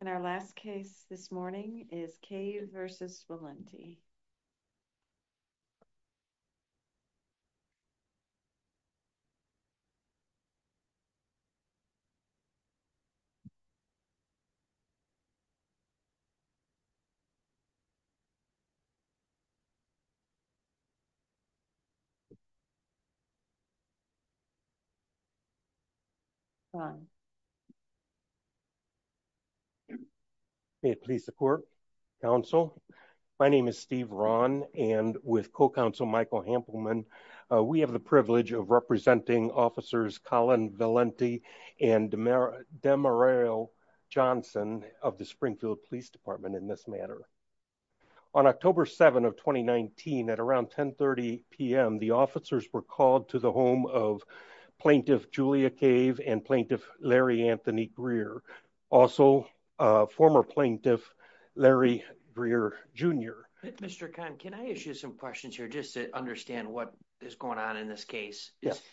And our last case this morning is Cave v. Valenti. May it please the court, counsel. My name is Steve Ron and with co-counsel Michael Hampelman, we have the privilege of representing officers Colin Valenti and Demareil Johnson of the Springfield Police Department in this matter. On October 7 of 2019 at around 1030 PM, the officers were called to the home of Plaintiff Julia Cave and Plaintiff Larry Anthony Greer, also a former plaintiff, Larry Greer Jr. Mr. Con, can I issue some questions here just to understand what is going on in this case?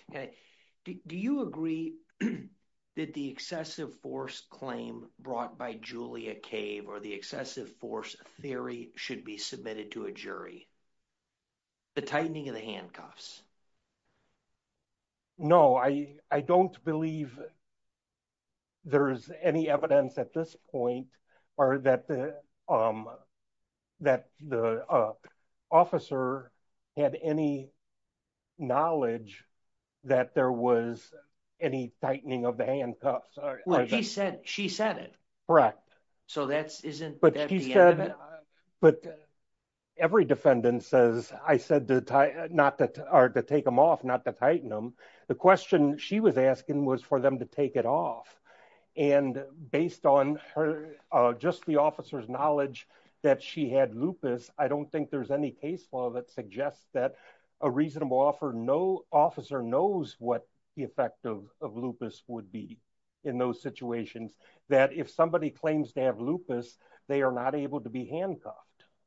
Do you agree that the excessive force claim brought by Julia Cave or the excessive force theory should be submitted to a jury? The tightening of the handcuffs. No, I, I don't believe there's any evidence at this point or that the, um, that the officer had any knowledge. That there was any tightening of the handcuffs or she said, she said it correct. So that's isn't, but he said, but every defendant says, I said to tie not to take them off, not to tighten them. The question she was asking was for them to take it off and based on her, just the officer's knowledge that she had lupus. I don't think there's any case law that suggests that a reasonable offer. No officer knows what the effect of lupus would be in those situations that if somebody claims to have lupus, they are not able to be handcuffed.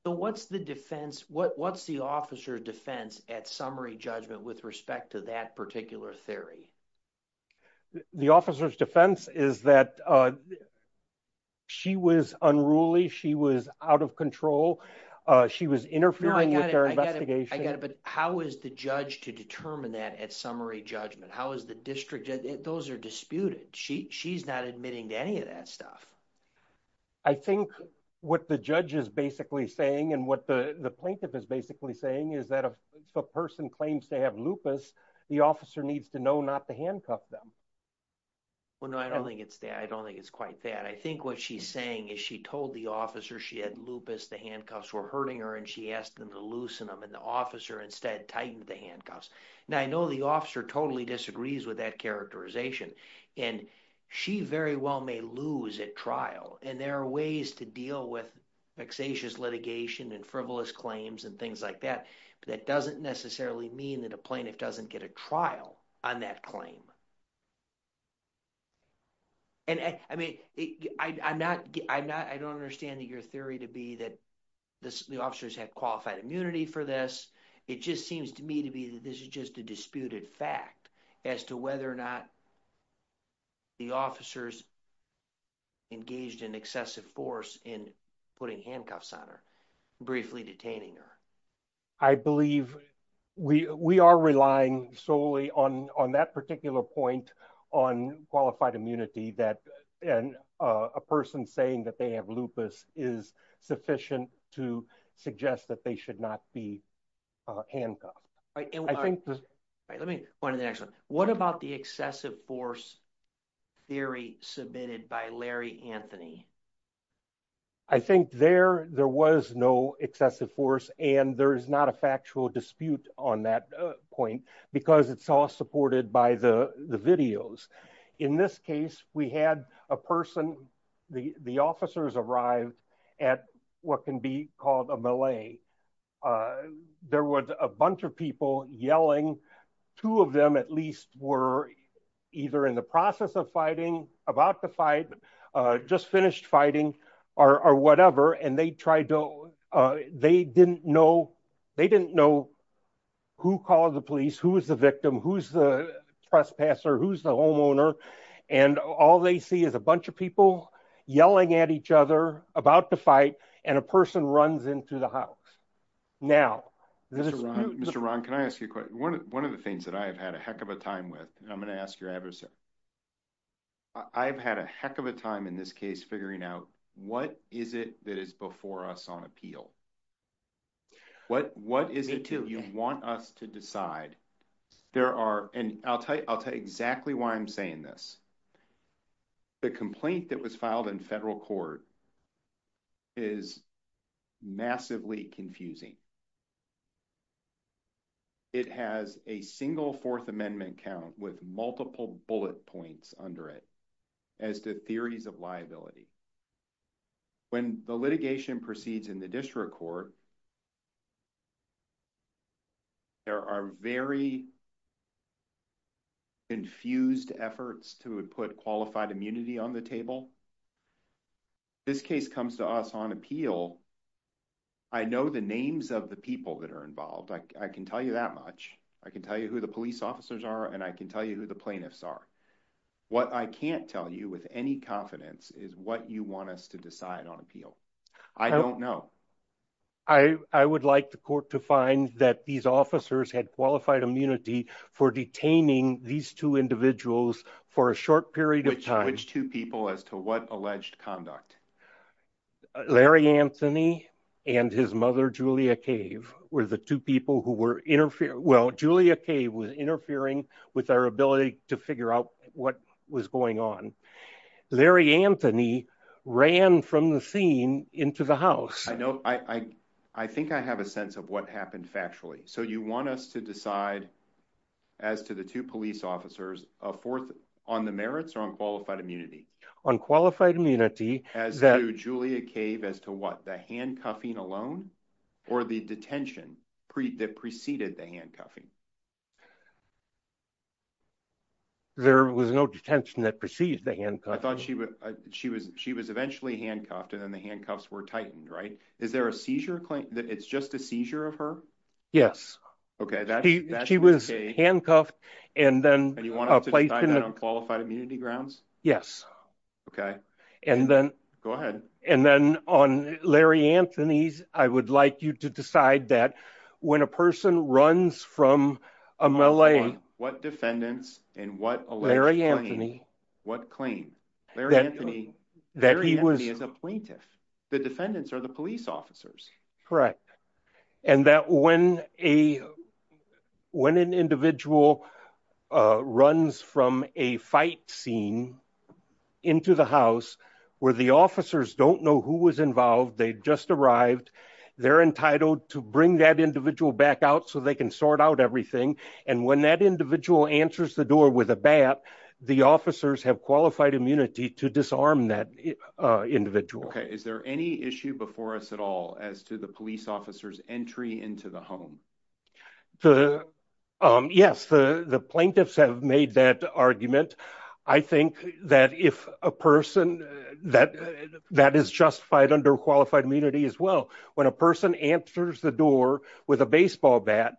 So what's the defense? What's the officer defense at summary judgment with respect to that particular theory? The officer's defense is that. She was unruly. She was out of control. She was interfering with their investigation. I got it. But how is the judge to determine that at summary judgment? How is the district? Those are disputed. She she's not admitting to any of that stuff. I think what the judge is basically saying, and what the plaintiff is basically saying is that if a person claims to have lupus, the officer needs to know not to handcuff them. Well, no, I don't think it's that I don't think it's quite that. I think what she's saying is she told the officer she had lupus, the handcuffs were hurting her and she asked them to loosen them and the officer instead tightened the handcuffs. Now, I know the officer totally disagrees with that characterization and she very well may lose at trial. And there are ways to deal with vexatious litigation and frivolous claims and things like that. But that doesn't necessarily mean that a plaintiff doesn't get a trial on that claim. And I mean, I'm not I'm not I don't understand that your theory to be that the officers have qualified immunity for this. It just seems to me to be that this is just a disputed fact as to whether or not the officers engaged in excessive force in putting handcuffs on her, briefly detaining her. I believe we we are relying solely on on that particular point on qualified immunity that and a person saying that they have lupus is sufficient to suggest that they should not be handcuffed. Right. And I think let me point to the next one. What about the excessive force theory submitted by Larry Anthony? I think there there was no excessive force and there is not a factual dispute on that point because it's all supported by the videos. In this case, we had a person, the officers arrived at what can be called a melee. There was a bunch of people yelling. Two of them at least were either in the process of fighting, about to fight, just finished fighting or whatever. And they tried to they didn't know they didn't know who called the police, who was the victim, who's the trespasser, who's the homeowner. And all they see is a bunch of people yelling at each other about the fight and a person runs into the house. Now, this is Mr. Ron, can I ask you one of the things that I have had a heck of a time with and I'm going to ask your adversary. I've had a heck of a time in this case, figuring out what is it that is before us on appeal? What is it that you want us to decide? There are and I'll tell you, I'll tell you exactly why I'm saying this. The complaint that was filed in federal court is massively confusing. It has a single fourth amendment count with multiple bullet points under it as to theories of liability. When the litigation proceeds in the district court, there are very confused efforts to put qualified immunity on the table. This case comes to us on appeal. I know the names of the people that are involved. I can tell you that much. I can tell you who the police officers are and I can tell you who the plaintiffs are. What I can't tell you with any confidence is what you want us to decide on appeal. I don't know. I would like the court to find that these officers had qualified immunity for detaining these two individuals for a short period of time. Which two people as to what alleged conduct? Larry Anthony and his mother, Julia Cave, were the two people who were interfering. Well, Julia Cave was interfering with our ability to figure out what was going on. Larry Anthony ran from the scene into the house. I know. I think I have a sense of what happened factually. So you want us to decide as to the two police officers on the merits or on qualified immunity? On qualified immunity. As to Julia Cave, as to what? The handcuffing alone or the detention that preceded the handcuffing? There was no detention that preceded the handcuffing. I thought she was eventually handcuffed and then the handcuffs were tightened, right? Is there a seizure claim that it's just a seizure of her? Yes. She was handcuffed and then placed in a... And you want us to decide that on qualified immunity grounds? Yes. Okay. Go ahead. And then on Larry Anthony's, I would like you to decide that when a person runs from a melee... What defendants and what alleged claim? What claim? Larry Anthony is a plaintiff. The defendants are the police officers. Correct. And that when an individual runs from a fight scene into the house where the officers don't know who was involved, they just arrived, they're entitled to bring that individual back out so they can sort out everything. And when that individual answers the door with a bat, the officers have qualified immunity to disarm that individual. Okay. Is there any issue before us at all as to the police officer's entry into the home? Yes. The plaintiffs have made that argument. I think that if a person that is justified under qualified immunity as well, when a person answers the door with a baseball bat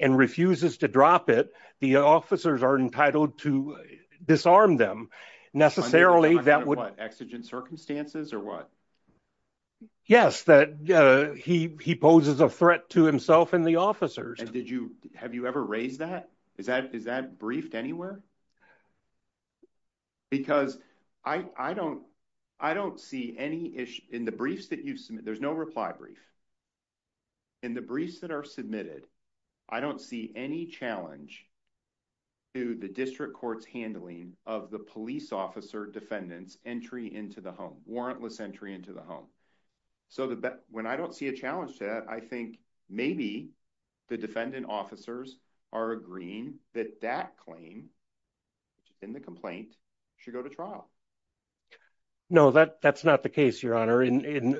and refuses to drop it, the officers are entitled to disarm them. Necessarily, that would... Under what? Exigent circumstances or what? Yes. That he poses a threat to himself and the officers. And have you ever raised that? Is that briefed anywhere? Because I don't see any issue... In the briefs that you've submitted, there's no reply brief. In the briefs that are submitted, I don't see any challenge to the district court's handling of the police officer defendant's entry into the home, warrantless entry into the home. So when I don't see a challenge to that, I think maybe the defendant officers are agreeing that that claim in the complaint should go to trial. No, that's not the case, Your Honor. And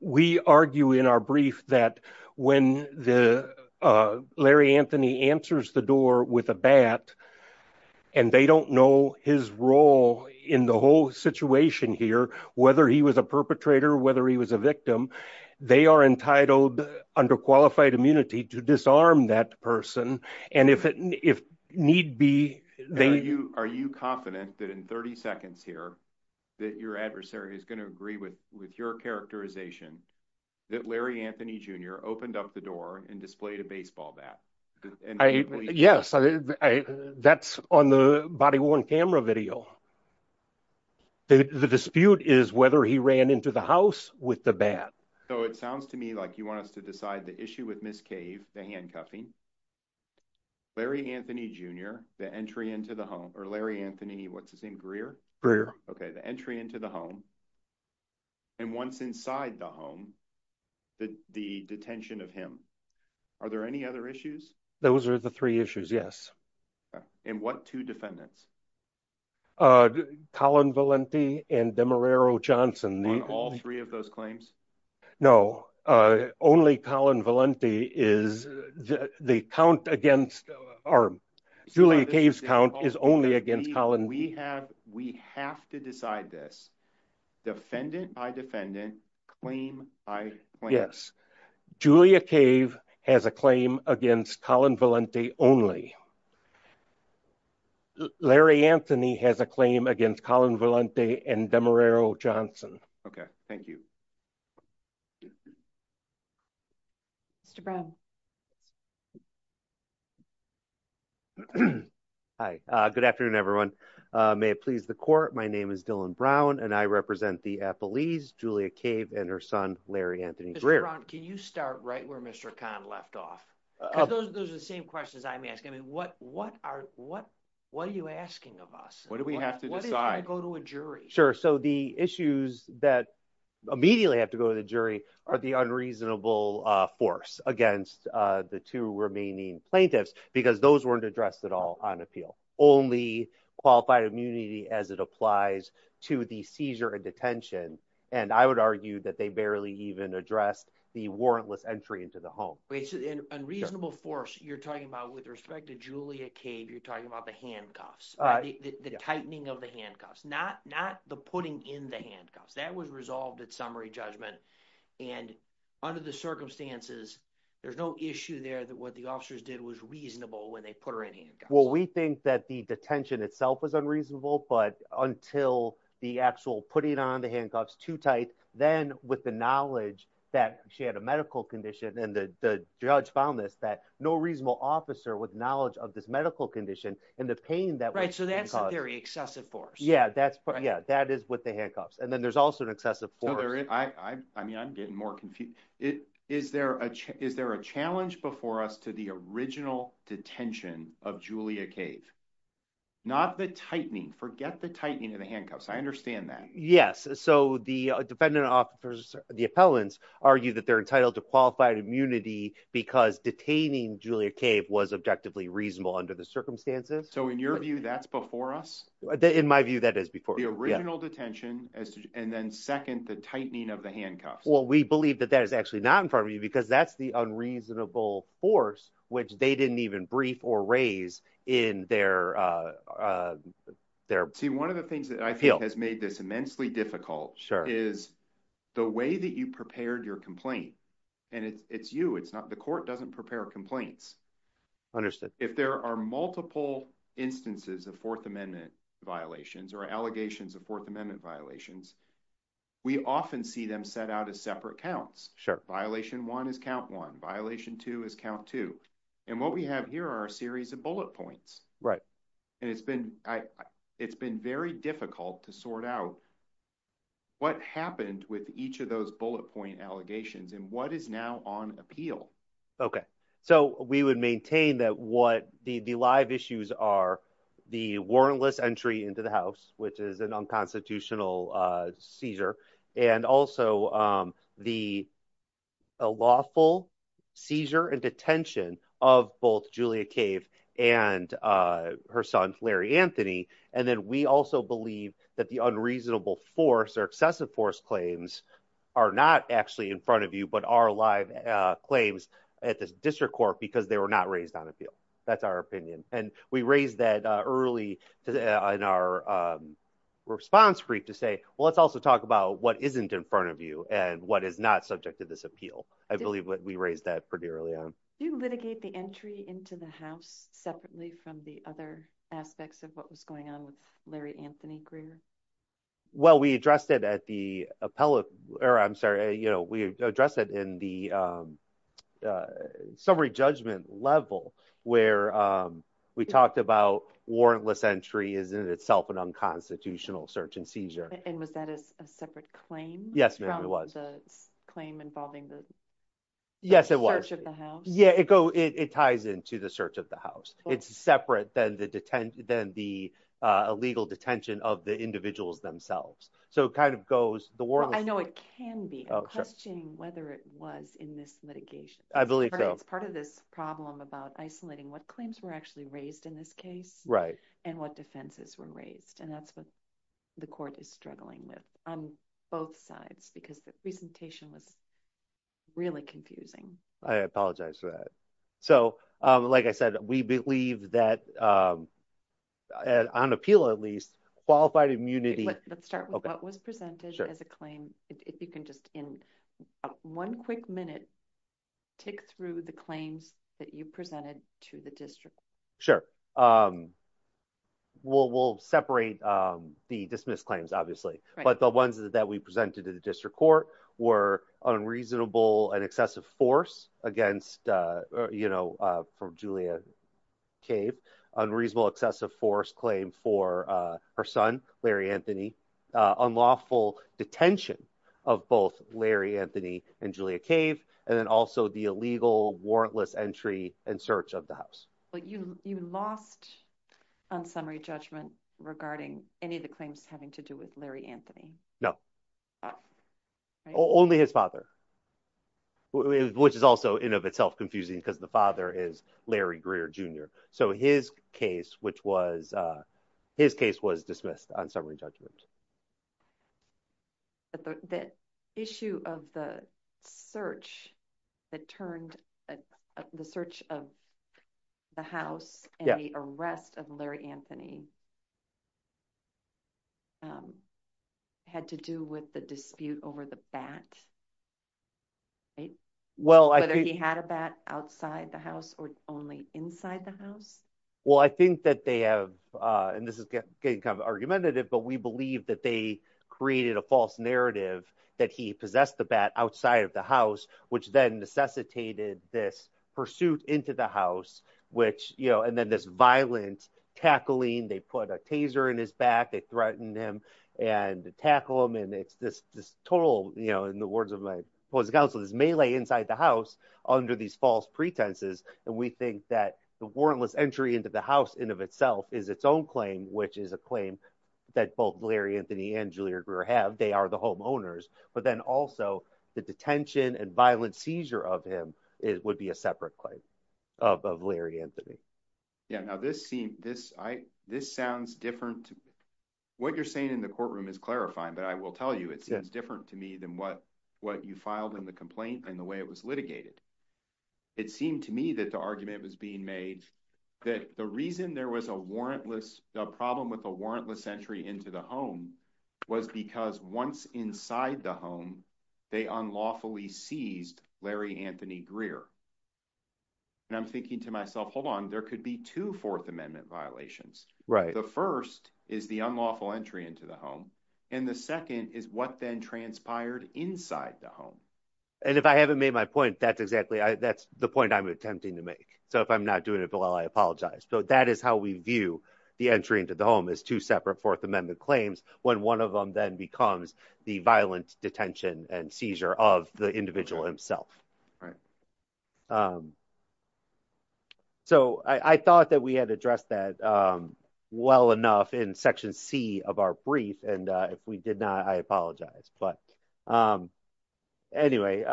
we argue in our brief that when Larry Anthony answers the door with a bat and they don't know his role in the whole situation here, whether he was a perpetrator, whether he was a victim, they are entitled under qualified immunity to disarm that person. And if need be, they... Are you confident that in 30 seconds here that your adversary is going to agree with your characterization that Larry Anthony Jr. opened up the door and displayed a baseball bat? Yes. That's on the body-worn camera video. The dispute is whether he ran into the house with the bat. So it sounds to me like you want us to decide the issue with Ms. Cave, the handcuffing. Larry Anthony Jr., the entry into the home, or Larry Anthony, what's his name, Greer? Greer. Okay, the entry into the home. And once inside the home, the detention of him. Are there any other issues? Those are the three issues, yes. And what two defendants? Colin Valenti and Demarero Johnson. On all three of those claims? No. Only Colin Valenti is... The count against... Julia Cave's count is only against Colin Valenti. We have to decide this. Defendant by defendant, claim by claim. Yes. Julia Cave has a claim against Colin Valenti only. Larry Anthony has a claim against Colin Valenti and Demarero Johnson. Okay. Thank you. Mr. Brown. Hi. Good afternoon, everyone. May it please the court. My name is Dylan Brown, and I represent the Appleese, Julia Cave, and her son, Larry Anthony Greer. Mr. Brown, can you start right where Mr. Khan left off? Those are the same questions I'm asking. I mean, what are you asking of us? What do we have to decide? What if I go to a jury? Sure. So the issues that immediately have to go to the jury are the unreasonable force against the two remaining plaintiffs, because those weren't addressed at all on appeal. Only qualified immunity as it applies to the seizure and detention. And I would argue that they barely even addressed the warrantless entry into the home. Wait. So unreasonable force, you're talking about with respect to Julia Cave, talking about the handcuffs, the tightening of the handcuffs, not the putting in the handcuffs. That was resolved at summary judgment. And under the circumstances, there's no issue there that what the officers did was reasonable when they put her in handcuffs. Well, we think that the detention itself was unreasonable, but until the actual putting on the handcuffs too tight, then with the knowledge that she had a medical condition and the judge found this, that no reasonable officer with knowledge of this medical condition and the pain that- Right. So that's a very excessive force. Yeah. That is with the handcuffs. And then there's also an excessive force. I mean, I'm getting more confused. Is there a challenge before us to the original detention of Julia Cave? Not the tightening. Forget the tightening of the handcuffs. I understand that. Yes. So the defendant officers, the appellants, argue that they're entitled to qualified immunity because detaining Julia Cave was objectively reasonable under the circumstances. So in your view, that's before us? In my view, that is before us. The original detention and then second, the tightening of the handcuffs. Well, we believe that that is actually not in front of you because that's the unreasonable force, which they didn't even brief or raise in their- See, one of the things that I think has made this immensely difficult- Is the way that you prepared your complaint. And it's you, it's not the court doesn't prepare complaints. Understood. If there are multiple instances of Fourth Amendment violations or allegations of Fourth Amendment violations, we often see them set out as separate counts. Violation one is count one, violation two is count two. And what we have here are a series of bullet points. And it's been very difficult to sort out what happened with each of those bullet point allegations and what is now on appeal. Okay. So we would maintain that what the live issues are, the warrantless entry into the house, which is an unconstitutional seizure, and also the lawful seizure and detention of both Julia Cave and her son, Larry Anthony. And then we also believe that the unreasonable force or excessive force claims are not actually in front of you, but are live claims at the district court because they were not raised on appeal. That's our opinion. And we raised that early in our response brief to say, well, let's also talk about what isn't in front of you and what is not subject to this appeal. I believe what we raised that pretty early on. You litigate the entry into the house separately from the other aspects of what was going on with Larry Anthony Greer. Well, we addressed it at the appellate or I'm sorry, you know, we address it in the summary judgment level where we talked about warrantless entry is in itself an unconstitutional search and seizure. And was that a separate claim? Yes, ma'am, it was. The claim involving the search of the house? Yes, it was. Yeah, it ties into the search of the house. It's separate than the illegal detention of the individuals themselves. So it kind of goes, the warrantless- I know it can be. I'm questioning whether it was in this litigation. I believe so. It's part of this problem about isolating what claims were actually raised in this case and what defenses were raised. And that's what the court is struggling with on both sides because the presentation was really confusing. I apologize for that. So like I said, we believe that on appeal, at least, qualified immunity- Let's start with what was presented as a claim. If you can just in one quick minute, tick through the claims that you presented to the district. Sure. We'll separate the dismissed claims, obviously. But the ones that we presented to the district court were unreasonable and excessive force against, from Julia Cave, unreasonable excessive force claim for her son, Larry Anthony, unlawful detention of both Larry Anthony and Julia Cave, and then also the illegal warrantless entry and search of the house. You lost on summary judgment regarding any of the claims having to do with Larry Anthony? No. Only his father, which is also in of itself confusing because the father is Larry Greer Jr. So his case, which was, his case was dismissed on summary judgment. The issue of the search that turned, the search of the house and the arrest of Larry Anthony had to do with the dispute over the bat, right? Well, I think- Whether he had a bat outside the house or only inside the house? Well, I think that they have, and this is getting kind of argumentative, but we believe that they created a false narrative that he possessed the bat outside of the house, which then necessitated this pursuit into the house, which, you know, and then this violent tackling, they put a taser in his back, they threatened him and tackle him. And it's this total, you know, in the words of my opposing counsel, this melee inside the house under these false pretenses. And we think that the warrantless entry into the house in of itself is its own claim, which is a claim that both Larry Anthony and Julia Greer have, they are the homeowners, but then also the detention and violent seizure of him would be a separate claim of Larry Anthony. Yeah, now this seems, this sounds different. What you're saying in the courtroom is clarifying, but I will tell you, it seems different to me than what you filed in the complaint and the way it was litigated. It seemed to me that the argument was being made that the reason there was a warrantless, a problem with a warrantless entry into the home was because once inside the home, they unlawfully seized Larry Anthony Greer. And I'm thinking to myself, hold on, there could be two Fourth Amendment violations. The first is the unlawful entry into the home. And the second is what then transpired inside the home. And if I haven't made my point, that's exactly, that's the point I'm attempting to make. So if I'm not doing it well, I apologize. So that is how we view the entry into the home is two separate Fourth Amendment claims when one of them then becomes the violent detention and seizure of the individual himself. Right. So I thought that we had addressed that well enough in section C of our brief. And if we did not, I apologize. But anyway,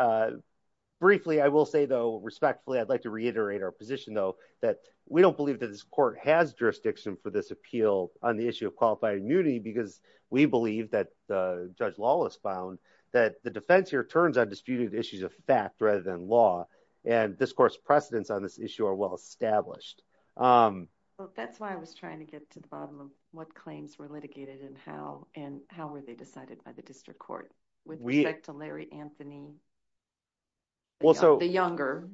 briefly, I will say, though, I'd like to reiterate our position, though, that we don't believe that this court has jurisdiction for this appeal on the issue of qualified immunity, because we believe that Judge Lawless found that the defense here turns on disputed issues of fact rather than law. And this court's precedents on this issue are well established. That's why I was trying to get to the bottom of what claims were litigated and how and how were they decided by the district court with respect to Larry Anthony and the younger.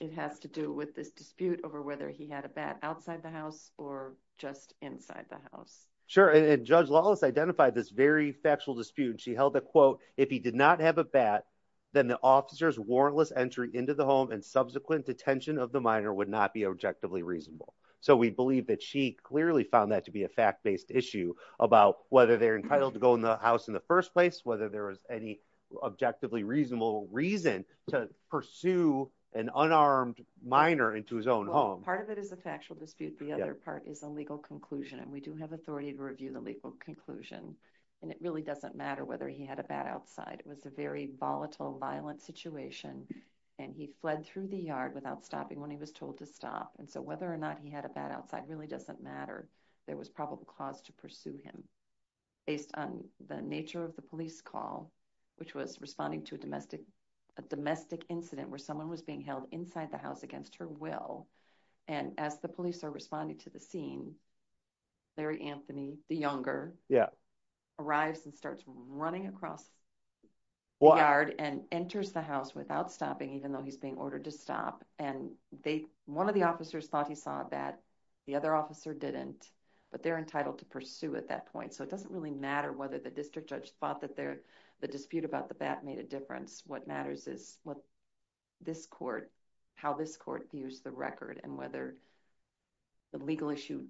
It has to do with this dispute over whether he had a bat outside the house or just inside the house. Sure. And Judge Lawless identified this very factual dispute. She held the quote, if he did not have a bat, then the officer's warrantless entry into the home and subsequent detention of the minor would not be objectively reasonable. So we believe that she clearly found that to be a fact based issue about whether they're entitled to go in the house in first place, whether there is any objectively reasonable reason to pursue an unarmed minor into his own home. Part of it is a factual dispute. The other part is a legal conclusion. And we do have authority to review the legal conclusion. And it really doesn't matter whether he had a bat outside. It was a very volatile, violent situation. And he fled through the yard without stopping when he was told to stop. And so whether or not he had a bat outside really doesn't matter. There was probable cause to pursue him based on the nature of the police call, which was responding to a domestic incident where someone was being held inside the house against her will. And as the police are responding to the scene, Larry Anthony, the younger, arrives and starts running across the yard and enters the house without stopping, even though he's being ordered to stop. And one of the officers thought he saw a bat. The other officer didn't. But they're entitled to pursue at that point. So it doesn't really matter whether the district judge thought that the dispute about the bat made a difference. What matters is how this court views the record and whether the legal issue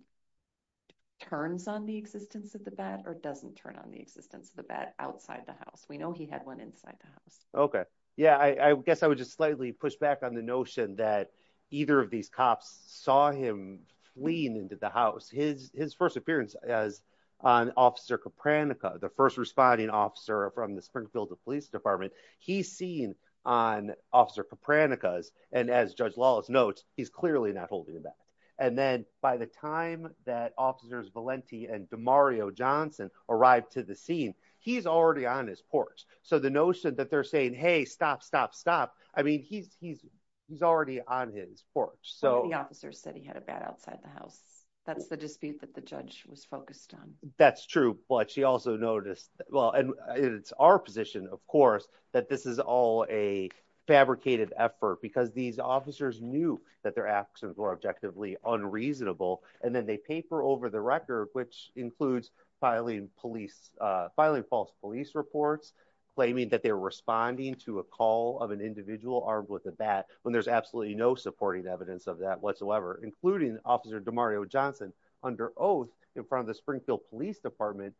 turns on the existence of the bat or doesn't turn on the existence of the bat outside the house. We know he had one inside the house. Okay. Yeah, I guess I would just push back on the notion that either of these cops saw him fleeing into the house. His first appearance as an officer, Copernicus, the first responding officer from the Springfield Police Department, he's seen on officer Copernicus. And as Judge Lawless notes, he's clearly not holding the bat. And then by the time that officers Valenti and Mario Johnson arrived to the scene, he's already on his porch. So the notion that they're saying, hey, stop, stop, stop. I mean, he's, he's, he's already on his porch. So the officers said he had a bat outside the house. That's the dispute that the judge was focused on. That's true. But she also noticed, well, and it's our position, of course, that this is all a fabricated effort, because these officers knew that their actions were objectively unreasonable. And then they pay for over the record, which includes filing police, filing false police reports, claiming that they're responding to a of an individual armed with a bat when there's absolutely no supporting evidence of that whatsoever, including Officer DeMario Johnson under oath in front of the Springfield Police Department,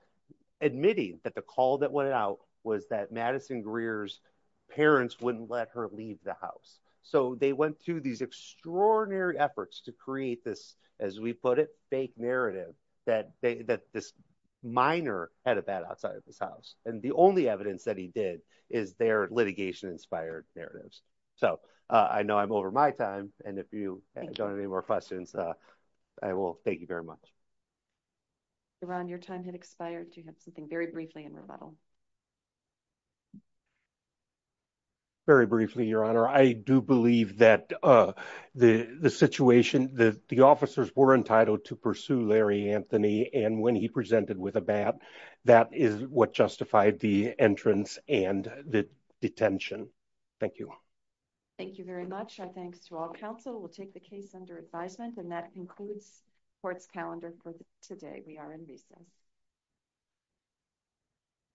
admitting that the call that went out was that Madison Greer's parents wouldn't let her leave the house. So they went through these extraordinary efforts to create this, as we put it, fake narrative that they that this minor had a bat outside of his house. And the only evidence that he did is their litigation inspired narratives. So I know I'm over my time. And if you don't have any more questions, I will. Thank you very much. Ron, your time had expired to have something very briefly in rebuttal. Very briefly, Your Honor, I do believe that the situation that the officers were entitled to pursue Larry Anthony, and when he presented with a bat, that is what justified the entrance and the detention. Thank you. Thank you very much. Our thanks to all counsel. We'll take the case under advisement and that concludes court's calendar for today. We are in recess.